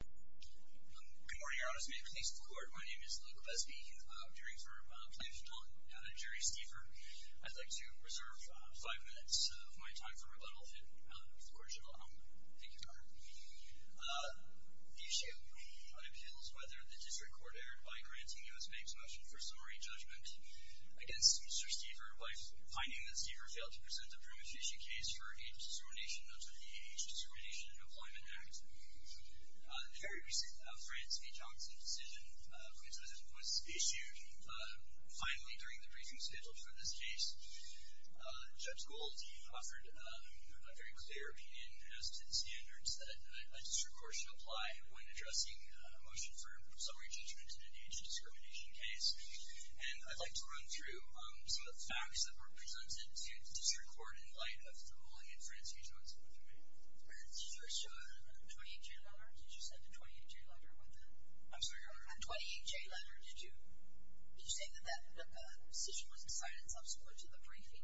Good morning, Your Honors. May it please the Court, my name is Luke Besby. I'm dearing for plaintiff's atonement. I'm Jerry Stever. I'd like to reserve five minutes of my time for rebuttal to the Court of General Honor. Thank you, Your Honor. The issue appeals whether the District Court erred by granting US Bank's motion for summary judgment against Mr. Stever by finding that Stever failed to present the prima facie case for age discrimination under the Age Discrimination and Employment Act. The very recent France v. Johnson decision was issued finally during the briefing scheduled for this case. Judge Gould offered a very clear opinion as to the standards that a District Court should apply when addressing a motion for summary judgment in an age discrimination case. And I'd like to run through some of the facts that were presented to the District Court Did you show a 28-J letter? Did you send a 28-J letter with it? I'm sorry, Your Honor? A 28-J letter. Did you say that that decision was decided subsequent to the briefing?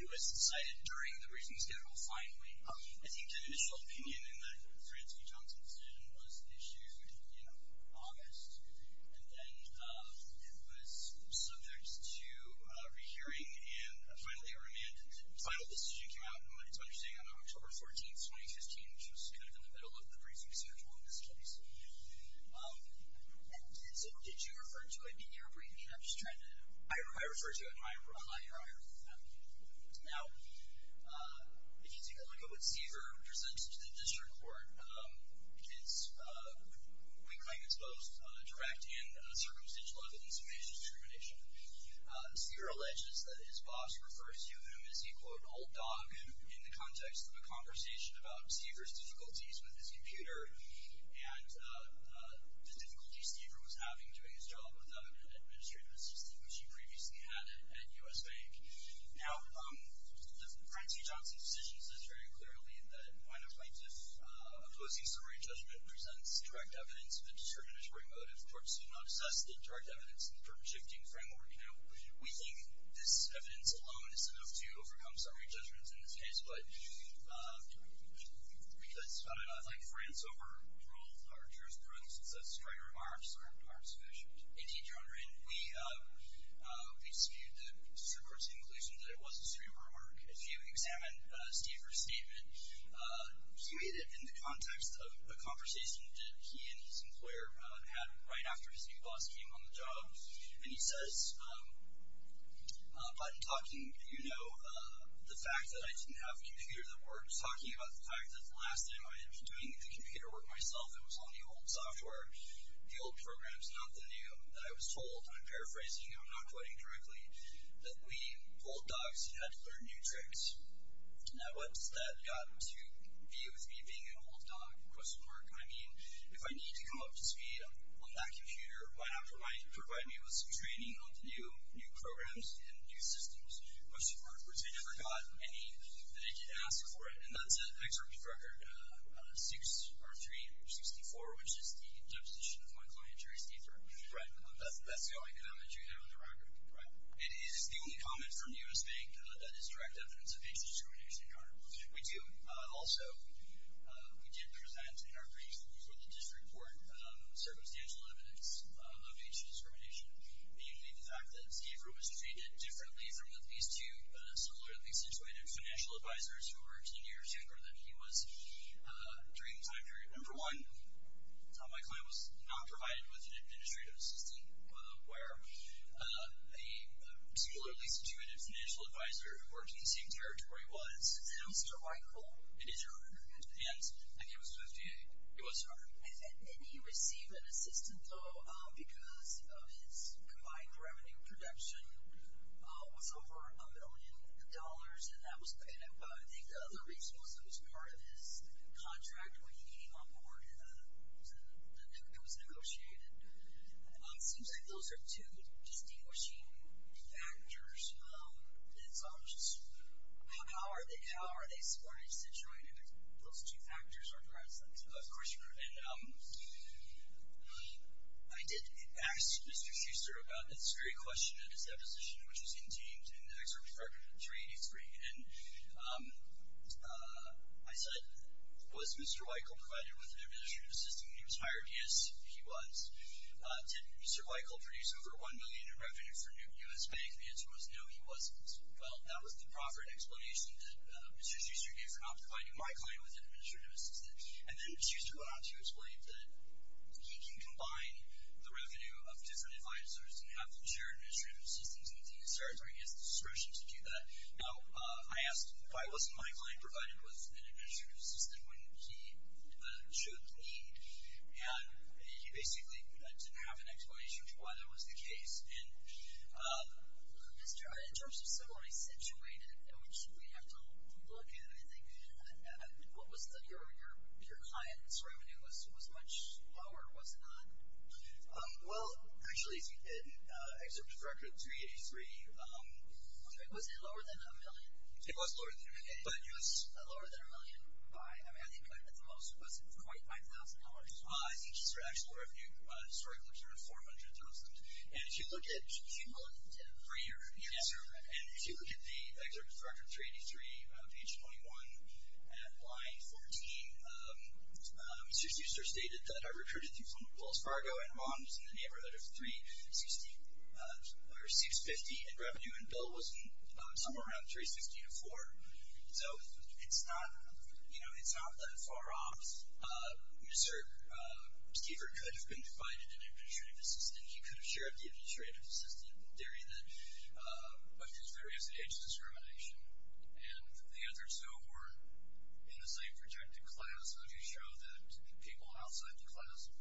It was decided during the briefing schedule, finally. I think the initial opinion in the France v. Johnson decision was issued in August, and then it was subject to rehearing and finally a remand. The final decision came out, it's what you're saying, on October 14, 2015, which was kind of in the middle of the briefing schedule in this case. And so did you refer to it in your briefing? I'm just trying to know. I referred to it in my briefing. Now, if you take a look at what Stever presented to the District Court, it's, we claim it's both direct and circumstantial evidence of age discrimination. Stever alleges that his boss refers to him as he, quote, old dog in the context of a conversation about Stever's difficulties with his computer and the difficulties Stever was having doing his job with the administrative system which he previously had at U.S. Bank. Now, the France v. Johnson decision says very clearly that when a plaintiff opposing summary judgment presents direct evidence of a determinatory motive, courts do not assess the direct evidence in the term-shifting framework. Now, we think this evidence alone is enough to overcome summary judgments in this case, but that's about enough. I think France overruled our jurisprudence. That's a great remark. It's a great remark to finish it. Indeed, Your Honor, and we excude the District Court's conclusion that it was a super remark. If you examine Stever's statement, he made it in the context of a conversation that he and his employer had right after his new boss came on the job, and he says, by talking, you know, the fact that I didn't have a computer that worked, talking about the fact that the last time I was doing the computer work myself, it was on the old software, the old programs, not the new, that I was told, and I'm paraphrasing, I'm not quoting correctly, that we old dogs had to learn new tricks. Now, what's that got to do with me being an old dog? Question mark. I mean, if I need to come up to speed on that computer, why not provide me with some training on the new programs and new systems? Question mark. Which I never got any, and they didn't ask for it, and that's an excerpt from Record 64, which is the deposition of my client, Jerry Stever. Right. That's the only comment you have on the record. Right. It is the only comment from U.S. Bank that is direct evidence of age discrimination in Congress. We do also, we did present in our briefs with the district court, circumstantial evidence of age discrimination, namely the fact that Stever was treated differently from these two similarly situated financial advisors who were 10 years younger than he was during the time period. Number one, my client was not provided with an administrative assistant, where a particularly situated financial advisor who worked in the same territory was. Mr. Weichel. It is her. Yes. And he was 58. It was her. And he received an assistant, though, because his combined revenue production was over $1 million, and I think the other reason was that it was part of his contract when he came on board and it was negotiated. It seems like those are two distinguishing factors. It's all just, how are they supported situated? Those two factors are present. Question. And I did ask Mr. Schuster about this very question at his deposition, which was in James in the excerpt from 383, and I said, was Mr. Weichel provided with an administrative assistant when he was hired? Yes, he was. Did Mr. Weichel produce over $1 million in revenue for new U.S. banks? The answer was no, he wasn't. Well, that was the proper explanation that Mr. Schuster gave for not providing my client with an administrative assistant. And then Schuster went on to explain that he can combine the revenue of different advisors and have them share administrative assistants, and I think it starts with his discretion to do that. Now, I asked why wasn't my client provided with an administrative assistant when he took lead, and he basically didn't have an explanation for why that was the case. And in terms of somebody situated, which we have to look at, I think your client's revenue was much lower, was it not? Well, actually, in excerpt from 383, it was lower than $1 million. It was lower than $1 million. It was lower than $1 million. I mean, I think the most was quite $5,000. I think Mr. Schuster's actual historical revenue was over $400,000. And if you look at the excerpt from 383, page 21, at line 14, Mr. Schuster stated that I recruited him from Wells Fargo, and his mom was in the neighborhood of $350,000 in revenue, and Bill was somewhere around $350,000 to $400,000. So it's not, you know, it's not that far off. Mr. Stieffer could have been provided an administrative assistant. He could have shared the administrative assistant, but there's various age discrimination, and the answers, though, were in the same projected class, which showed that people outside the class who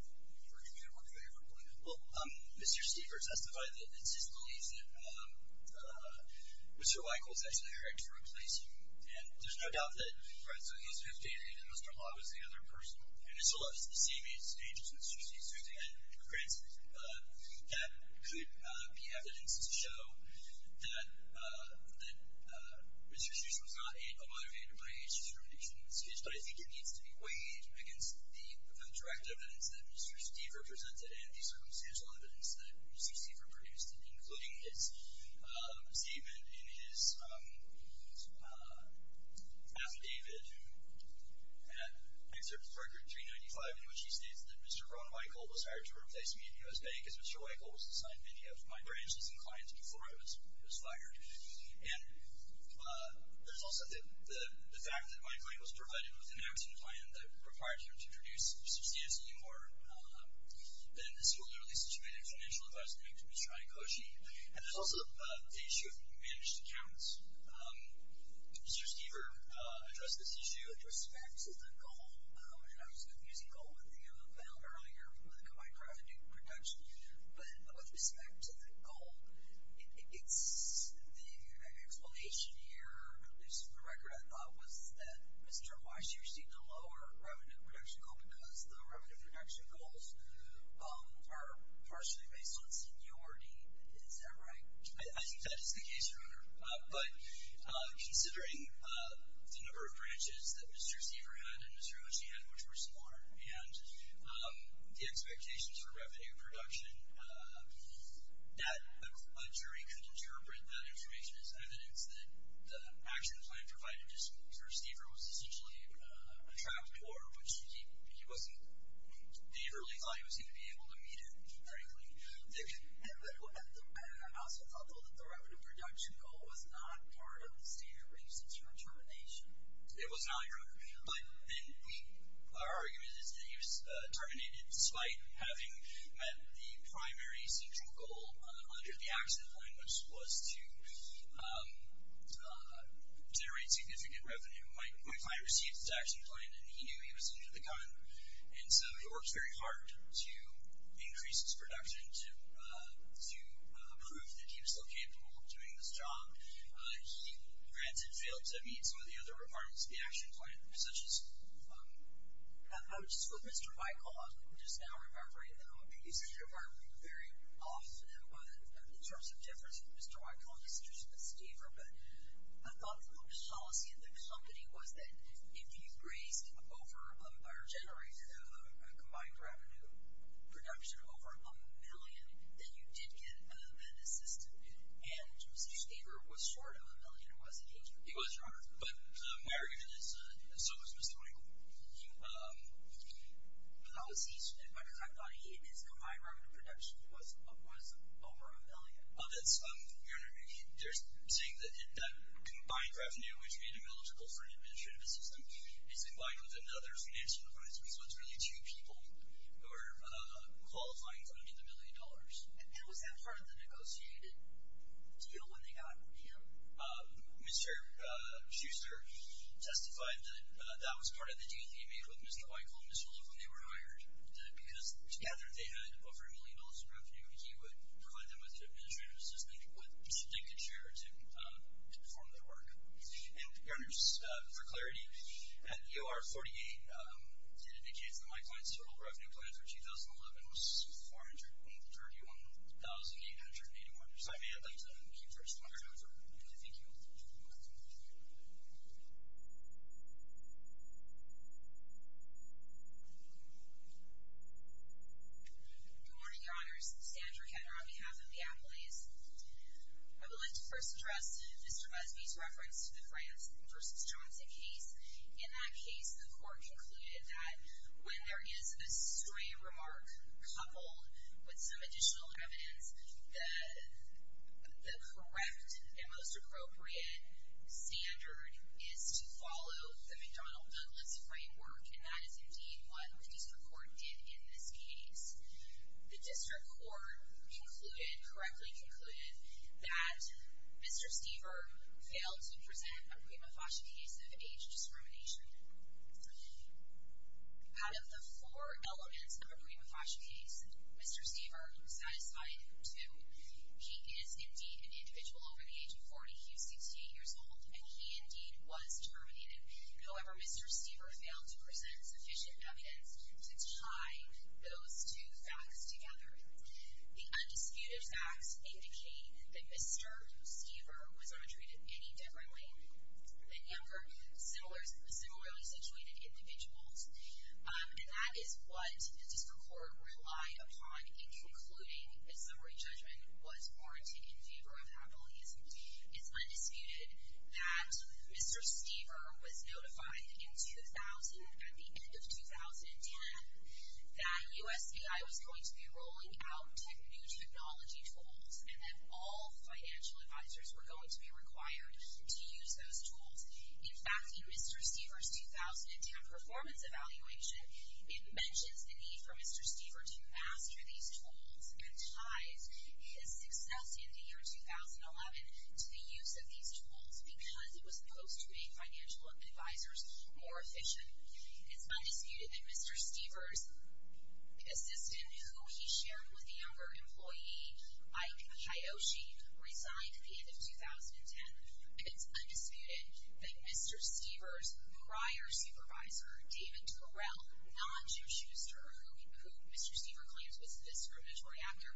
recruited him were favorable. Well, Mr. Stieffer testified that it's his belief that Mr. Weicholz actually had to replace him. And there's no doubt that, for instance, he was 15 and Mr. Hawley was the other person, and it's all at the same age stage as Mr. Stieffer. So I think that creates that could be evidence to show that Mr. Schuster was not a motivated by age discrimination in this case, but I think it needs to be weighed against the direct evidence that Mr. Stieffer produced, including his statement in his affidavit, New Service Record 395, in which he states that Mr. Ron Weicholz was hired to replace me in U.S. Bank as Mr. Weicholz assigned many of my branches and clients before I was hired. And there's also the fact that Weicholz was provided with an And there's also the issue of managed accounts. Did Mr. Stieffer address this issue? With respect to the goal, and I was confusing goal with the thing I found earlier with the combined revenue production. But with respect to that goal, it's the explanation here, at least for the record, I thought was that Mr. Weicholz received a lower revenue production goal because the revenue production goals are partially based on seniority. Is that right? I think that is the case, Your Honor. But considering the number of branches that Mr. Stieffer had and Mr. Ochi had, which were smaller, and the expectations for revenue production, that a jury could interpret that information as evidence that the action plan provided to Mr. Stieffer was essentially a trap door, which the early client was going to be able to meet it, frankly. And I also thought that the revenue production goal was not part of the senior reasons for termination. It was not, Your Honor. Our argument is that he was terminated despite having met the primary central goal under the action plan, which was to generate significant revenue. My client received this action plan, and he knew he was in for the gun. And so he worked very hard to increase his production to prove that he was still capable of doing this job. He, granted, failed to meet some of the other requirements of the action plan, such as the votes with Mr. Weicholz, which is now reverberated in the Ombudsman's department very often. In terms of difference with Mr. Weicholz, the situation with Stieffer, I thought the policy of the company was that if you raised over, or generated a combined revenue production over a million, then you did get an assistant. And Mr. Stieffer was short of a million, wasn't he, Your Honor? He was, Your Honor. But my argument is, as long as Mr. Weicholz, because I thought his combined revenue production was over a million. Oh, that's, Your Honor, they're saying that that combined revenue, which made him eligible for an administrative assistant, is combined with another financial advisor. So it's really two people who are qualifying for the million dollars. And was that part of the negotiated deal when they got him? Mr. Schuster testified that that was part of the deal he made with Mr. Weicholz and Mr. Love when they were hired. Because together they had over a million dollars in revenue, he would provide them with an administrative assistant who would take the chair to perform their work. And, Your Honors, for clarity, at EOR 48 it indicates that my client's total revenue plan for 2011 was 431,881. So I may have left that in the key first. I'm going to turn it over. Thank you. Good morning, Your Honors. Sandra Ketter on behalf of the appellees. I would like to first address Mr. Busby's reference to the France v. Johnson case. In that case the court concluded that when there is a stray remark coupled with some additional evidence, the correct and most appropriate standard is to follow the McDonnell-Douglas framework, and that is indeed what the district court did in this case. The district court concluded, correctly concluded, that Mr. Stever failed to present a prima facie case of age discrimination. Out of the four elements of a prima facie case, Mr. Stever satisfied two. He is indeed an individual over the age of 40. He is 68 years old, and he indeed was terminated. However, Mr. Stever failed to present sufficient evidence to tie those two facts together. The undisputed facts indicate that Mr. Stever was not treated any differently. They were similarly situated individuals, and that is what the district court relied upon in concluding a summary judgment was warranted in favor of appellees. It's undisputed that Mr. Stever was notified in 2000, at the end of 2010, that USAI was going to be rolling out new technology tools and that all financial advisors were going to be required to use those tools. In fact, in Mr. Stever's 2010 performance evaluation, it mentions the need for Mr. Stever to master these tools and ties his success in the year 2011 to the use of these tools because it was supposed to make financial advisors more efficient. It's undisputed that Mr. Stever's assistant, who he shared with a younger employee, Mike Hayoshi, resigned at the end of 2010. It's undisputed that Mr. Stever's prior supervisor, David Turrell, who Mr. Stever claims was the discriminatory actor,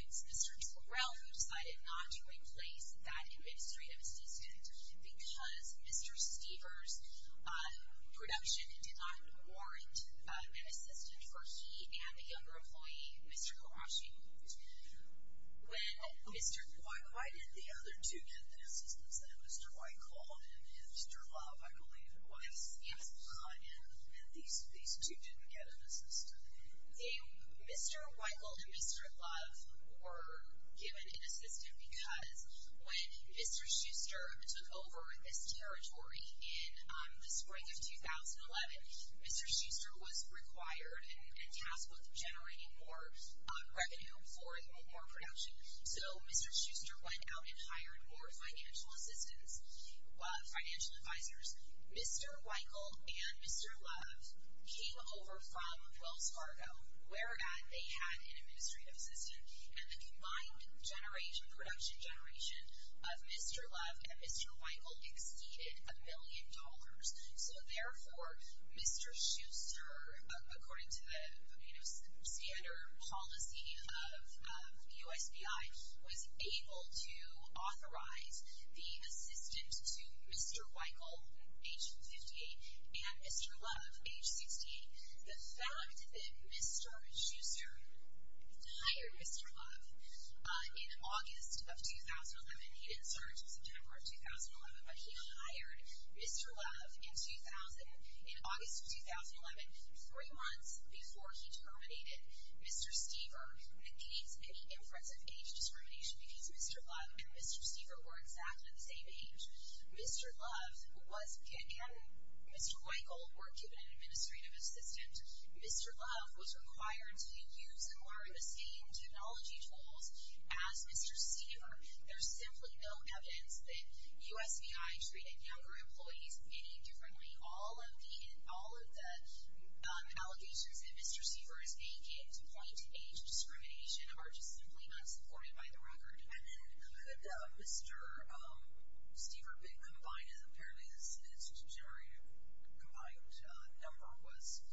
it's Mr. Turrell who decided not to replace that administrative assistant because Mr. Stever's production did not warrant an assistant for he and a younger employee, Mr. Hayoshi. Why did the other two get the assistants? Mr. Weichel and Mr. Love, I believe it was. Yes. And these two didn't get an assistant. Mr. Weichel and Mr. Love were given an assistant because when Mr. Schuster took over this territory in the spring of 2011, Mr. Schuster was required and tasked with generating more revenue for more production. So Mr. Schuster went out and hired more financial assistants, financial advisors. Mr. Weichel and Mr. Love came over from Wells Fargo, where they had an administrative assistant, and the combined generation, production generation, of Mr. Love and Mr. Weichel exceeded a million dollars. So, therefore, Mr. Schuster, according to the standard policy of USBI, was able to authorize the assistant to Mr. Weichel, age 58, and Mr. Love, age 68. The fact that Mr. Schuster hired Mr. Love in August of 2011, he didn't start until September of 2011, but he hired Mr. Love in August of 2011, three months before he terminated Mr. Stever, indicates an inference of age discrimination because Mr. Love and Mr. Stever were exactly the same age. Mr. Love and Mr. Weichel were given an administrative assistant. Mr. Love was required to use and acquire the same technology tools as Mr. Stever. There's simply no evidence that USBI treated younger employees any differently. All of the allegations that Mr. Stever is making to point to age discrimination are just simply not supported by the record. And then could Mr. Stever have been combined, and apparently his generated combined number was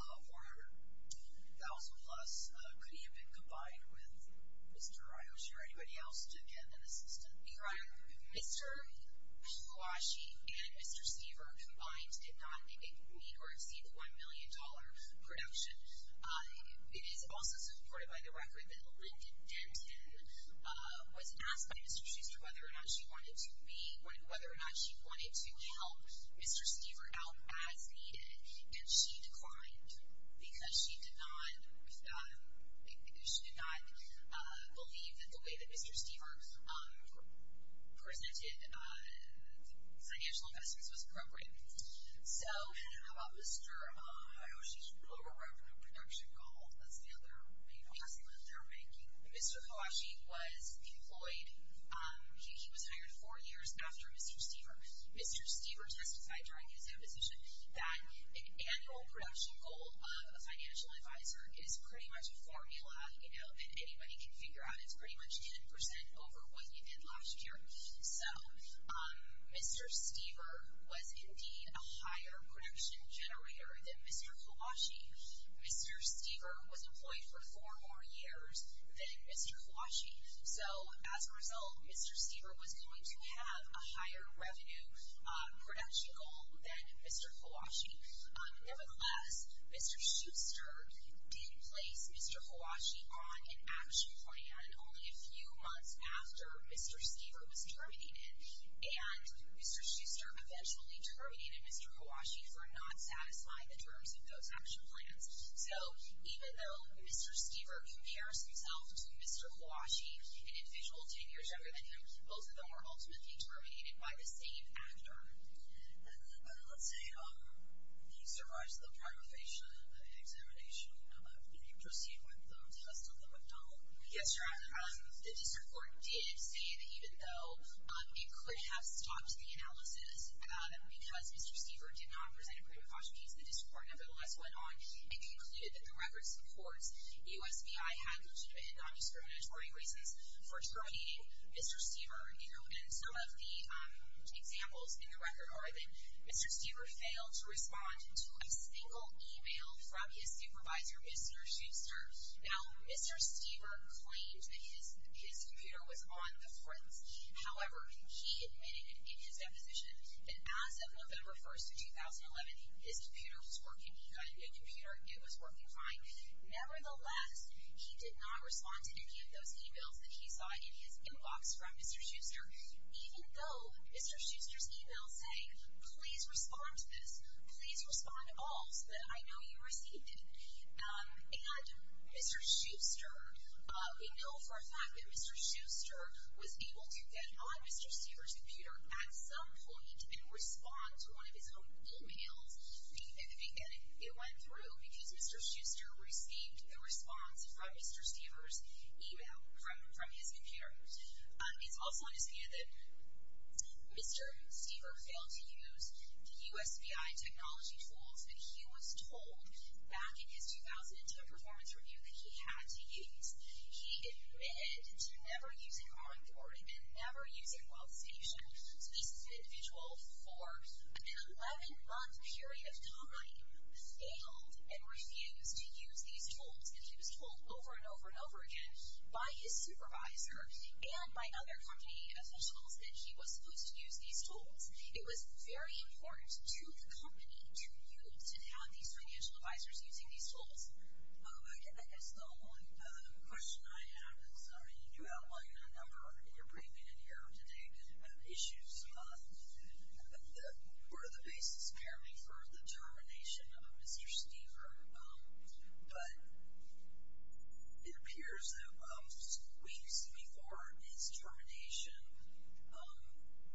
412,000-plus. Could he have been combined with Mr. Ryoshi or anybody else to get an assistant? Mr. Ryoshi and Mr. Stever combined did not meet or exceed the $1 million production. It is also supported by the record that Lyndon Denton was asked by Mr. Schuster whether or not she wanted to help Mr. Stever out as needed, and she declined because she did not believe that the way that Mr. Stever presented financial investments was appropriate. So, how about Mr. Ryoshi? He overrode the production call. That's the other main claim that they're making. Mr. Ryoshi was employed. He was hired four years after Mr. Stever. Mr. Stever testified during his opposition that an annual production goal of a financial advisor is pretty much a formula, you know, that anybody can figure out. It's pretty much 10% over what you did last year. So, Mr. Stever was indeed a higher production generator than Mr. Kawashi. Mr. Stever was employed for four more years than Mr. Kawashi. So, as a result, Mr. Stever was going to have a higher revenue production goal than Mr. Kawashi. Nevertheless, Mr. Schuster did place Mr. Kawashi on an action plan only a few months after Mr. Stever was terminated, and Mr. Schuster eventually terminated Mr. Kawashi for not satisfying the terms of those action plans. So, even though Mr. Stever compares himself to Mr. Kawashi, an individual 10 years younger than him, both of them were ultimately terminated by the same actor. Let's say he survives the primary examination. Would you proceed with the test of the McDonald? Yes, Your Honor. The district court did say that even though it could have stopped the analysis because Mr. Stever did not present a pre-decaution case, the district court nevertheless went on and concluded that the record supports U.S.B.I. having non-discriminatory reasons for terminating Mr. Stever. And some of the examples in the record are that Mr. Stever failed to respond to a single email from his supervisor, Mr. Schuster. Now, Mr. Stever claimed that his computer was on the front. However, he admitted in his deposition that as of November 1, 2011, his computer was working. He got a new computer and it was working fine. Nevertheless, he did not respond to any of those emails that he saw in his inbox from Mr. Schuster, even though Mr. Schuster's email saying, please respond to this, please respond to all so that I know you received it. And Mr. Schuster, we know for a fact that Mr. Schuster was able to get on Mr. Stever's computer at some point and respond to one of his own emails. And it went through because Mr. Schuster received the response from Mr. Stever's email from his computer. It's also understand that Mr. Stever failed to use the USBI technology tools that he was told back in his 2010 performance review that he had to use. He admitted to never using onboarding and never using wealth station. So this is an individual for an 11-month period of time, failed and refused to use these tools. And he was told over and over and over again by his supervisor and by other company officials that he was supposed to use these tools. It was very important to the company, to you, to have these financial advisors using these tools. I guess the only question I have is, I mean, you outlined a number in your briefing in here today of issues that were the basis, apparently, for the termination of Mr. Stever. But it appears that weeks before his termination,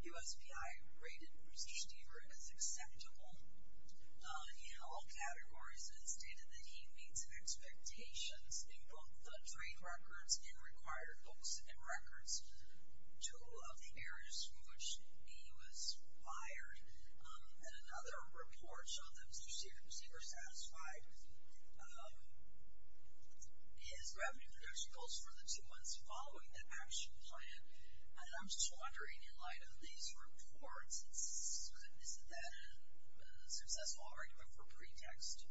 USBI rated Mr. Stever as acceptable. In all categories, it's stated that he meets expectations in both the trade records and required books and records, two of the areas from which he was fired. And another report showed that Mr. Stever was satisfied. His revenue production goals for the two months following the action plan. And I'm just wondering, in light of these reports, goodness, is that a successful argument for pretext?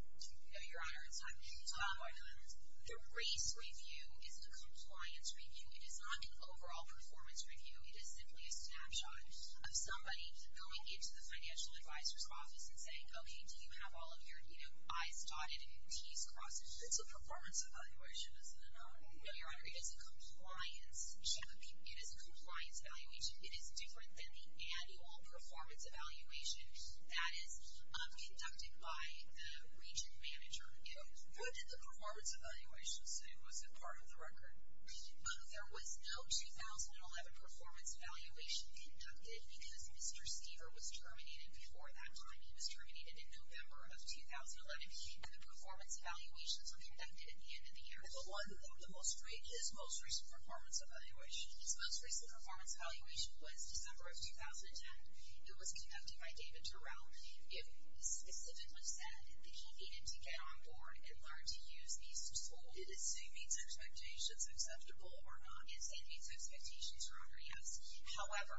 Your Honor, it's not an argument. The race review is a compliance review. It is not an overall performance review. It is simply a snapshot of somebody going into the financial advisor's office and saying, okay, do you have all of your I's dotted and your T's crossed? It's a performance evaluation, isn't it? No, Your Honor, it is a compliance check. It is a compliance evaluation. It is different than the annual performance evaluation that is conducted by the region manager. What did the performance evaluation say? Was it part of the record? There was no 2011 performance evaluation conducted because Mr. Stever was terminated before that time. He was terminated in November of 2011, and the performance evaluations were conducted at the end of the year. His most recent performance evaluation was December of 2010. It was conducted by David Turrell. It specifically said that he needed to get on board and learn to use these tools. Did it say means and expectations acceptable or not? It said means and expectations, Your Honor, yes. However,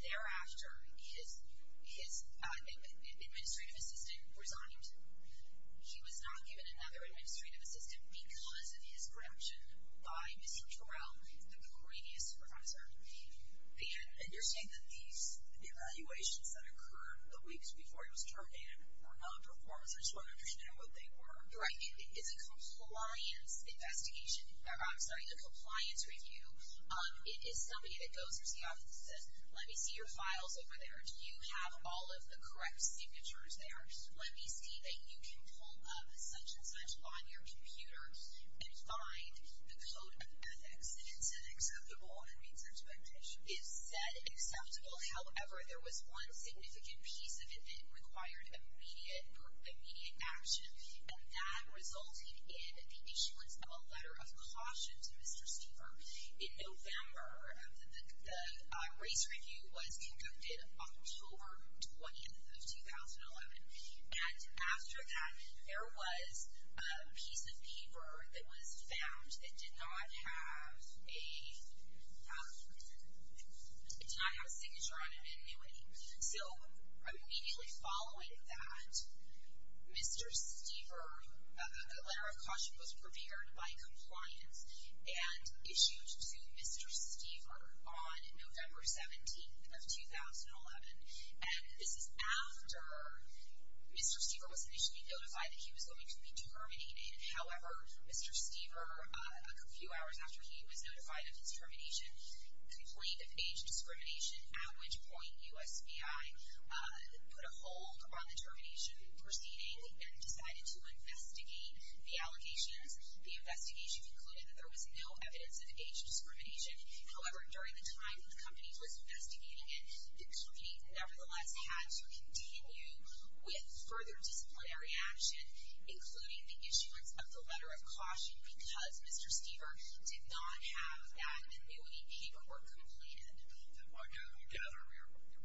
thereafter, his administrative assistant resigned. He was not given another administrative assistant because of his reduction by Mr. Turrell, the previous supervisor. And you're saying that these evaluations that occurred the weeks before he was terminated were not performance? I just want to understand what they were. You're right. It is a compliance investigation. I'm sorry, a compliance review. It is somebody that goes into the office and says, let me see your files over there. Do you have all of the correct signatures there? Let me see that you can pull up such-and-such on your computer and find the code of ethics. It said acceptable or means and expectations? It said acceptable. However, there was one significant piece of it that required immediate action, and that resulted in the issuance of a letter of caution to Mr. Stepher. In November, the race review was conducted on October 20th of 2011. And after that, there was a piece of paper that was found that did not have a signature on it, an annuity. So immediately following that, Mr. Stepher, a letter of caution was prepared by compliance and issued to Mr. Stepher on November 17th of 2011. And this is after Mr. Stepher was initially notified that he was going to be terminated. However, Mr. Stepher, a few hours after he was notified of his termination, complained of age discrimination, at which point USBI put a hold on the termination proceeding and decided to investigate the allegations. The investigation concluded that there was no evidence of age discrimination. However, during the time the company was investigating it, the company nevertheless had to continue with further disciplinary action, including the issuance of the letter of caution, because Mr. Stepher did not have that annuity paperwork completed. I gather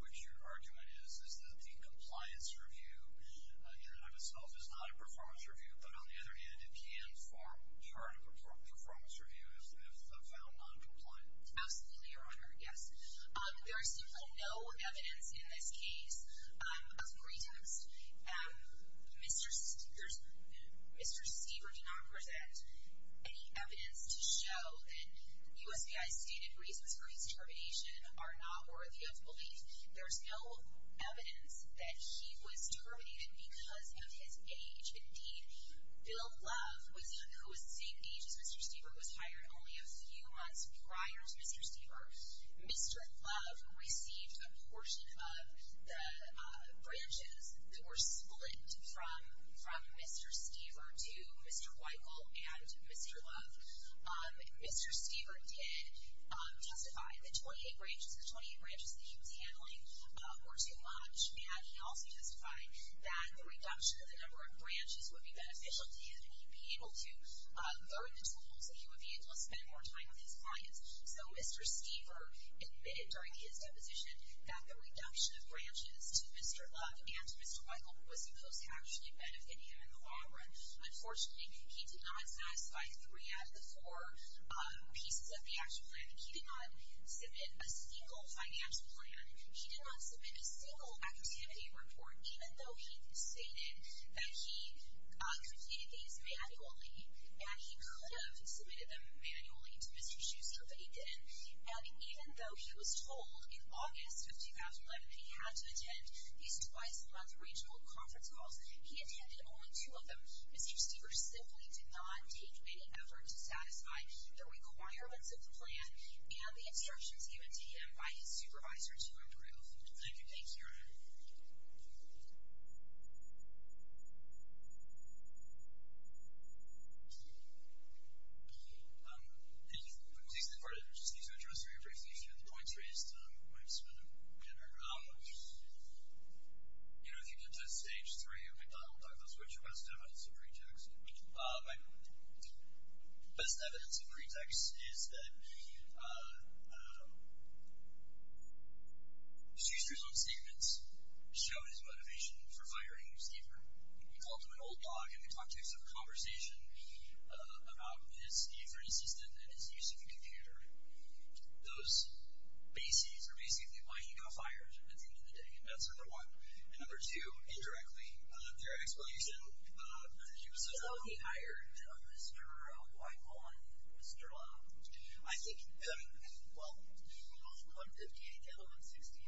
which your argument is, is that the compliance review in and of itself is not a performance review, but on the other hand, it can form part of a performance review if found noncompliant. Absolutely, Your Honor, yes. There is no evidence in this case of pretext. Mr. Stepher did not present any evidence to show that USBI's stated reasons for his termination are not worthy of belief. There is no evidence that he was terminated because of his age. Indeed, Bill Love, who was the same age as Mr. Stepher, was hired only a few months prior to Mr. Stepher. Mr. Love received a portion of the branches that were split from Mr. Stepher to Mr. Weichel and Mr. Love. Mr. Stepher did testify that the 28 branches that he was handling were too much, and he also testified that the reduction of the number of branches would be beneficial to him and he would be able to learn the tools and he would be able to spend more time with his clients. So Mr. Stepher admitted during his deposition that the reduction of branches to Mr. Love and Mr. Weichel was supposed to actually benefit him in the long run. Unfortunately, he did not satisfy three out of the four pieces of the actual plan. He did not submit a single financial plan. He did not submit a single activity report, even though he stated that he created these manually and he could have submitted them manually to Mr. Schuster, but he didn't. And even though he was told in August of 2011 that he had to attend these twice-a-month regional conference calls, he attended only two of them. Mr. Stepher simply did not take any effort to satisfy the requirements of the plan and the instructions given to him by his supervisor to approve. Thank you. Thank you. Thank you. I'm pleased to be part of this. I just need to address very briefly a few of the points raised by Ms. Smith and her colleagues. You know, if you could touch stage three, I thought we'd talk about which of us has evidence of pretext. My best evidence of pretext is that Mr. Schuster's own statements showed his motivation for firing Mr. Stepher. He called him an old dog and they talked to him through a conversation about his different assistant and his use of the computer. Those bases are basically why he got fired at the end of the day, and that's number one. And number two, indirectly, through an explanation that he was assistant. So he hired Mr. Whitehall and Mr. Long. I think, well, Long wanted to take L-168.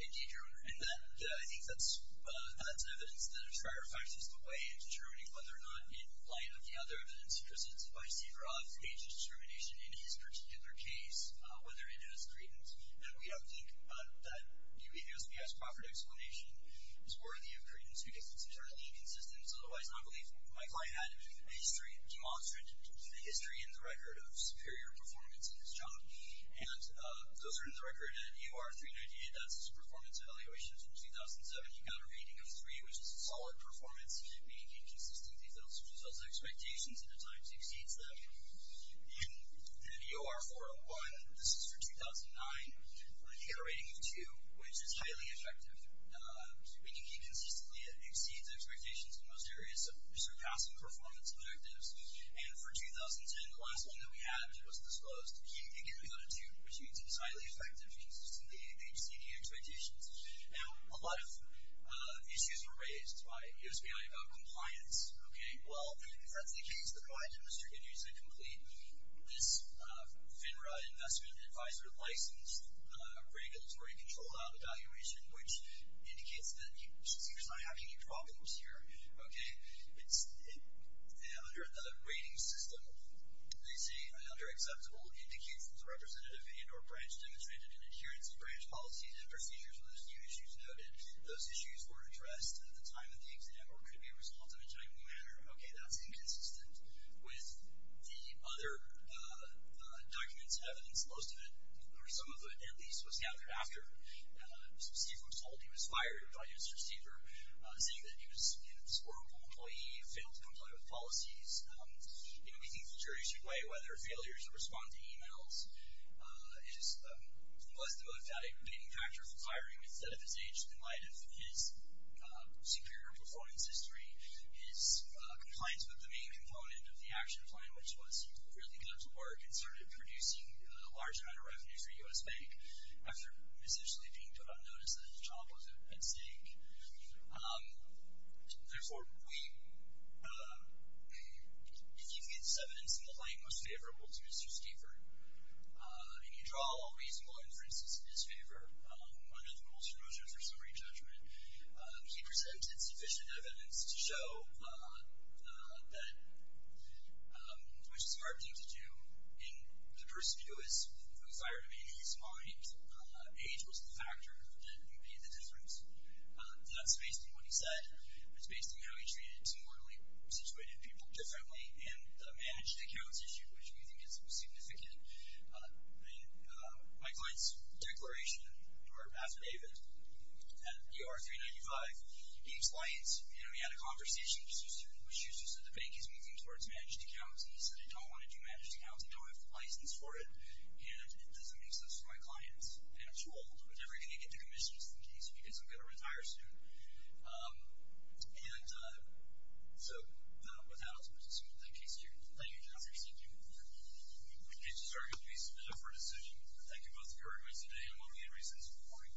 Indeed, Your Honor. And I think that's evidence that inspires us in a way in determining whether or not, in light of the other evidence presented by Steve Roth's age determination in his particular case, whether it is credence. And we don't think that U.S.B.S. Crawford's explanation is worthy of credence because it's entirely inconsistent. It's otherwise not believable. My client had a history, demonstrated a history in the record of superior performance in his job. And those are in the record in U.R. 398. That's his performance evaluations in 2007. He got a rating of three, which is a solid performance. He didn't make inconsistent details, which was those expectations, and at times exceeds them. In U.R. 401, this is for 2009, he got a rating of two, which is highly effective, meaning he consistently exceeds expectations in most areas of surpassing performance objectives. And for 2010, the last one that we had, which wasn't disclosed, he got a two, which means he's highly effective, consistently exceeding expectations. Now, a lot of issues were raised by U.S.B.I. about compliance. Okay, well, if that's the case, then why did Mr. Goodhue say complete? This FINRA investment advisor licensed a regulatory control out evaluation, which indicates that he was not having any problems here. Okay, under a rating system, they say, under acceptable indications, a representative and or branch demonstrated an adherence to branch policies and procedures when those new issues noted. Those issues were addressed at the time of the accident or could be a result of a timely manner. Okay, that's inconsistent with the other documents, evidence. Most of it, or some of it, at least, was gathered after. So Steve was told he was fired by his receiver, saying that he was an absorbable employee who failed to comply with policies. You know, we think the jury should weigh whether failures or responding to e-mails. He was the only fatiguing factor for firing, instead of his age, in light of his superior performance history, his compliance with the main component of the action plan, which was he really got to work and started producing a large amount of revenue for U.S. Bank after essentially being put on notice that his job was at stake. Therefore, if you can get this evidence in the light, it would be most favorable to Mr. Stiefert. And you draw all reasonable inferences in his favor. One of the rules for those is a summary judgment. He presented sufficient evidence to show that, which is a hard thing to do, and the person who was fired, I mean, in his mind, age was the factor that made the difference. That's based on what he said. It's based on how he treated mortally situated people differently in the managed accounts issue, which we think is significant. In my client's declaration, or after David, at ER 395, he explained, you know, he had a conversation with Schuster, and Schuster said the bank is moving towards managed accounts, and he said, I don't want to do managed accounts. I don't have the license for it, and it doesn't make sense for my clients. And I'm told, with everything I get to commission, it's the case because I'm going to retire soon. And so, with that, I'll turn this over to the case here. Thank you, Justice. Thank you. The cases are going to be submitted for decision. Thank you both very much today, and we'll be in recess until morning.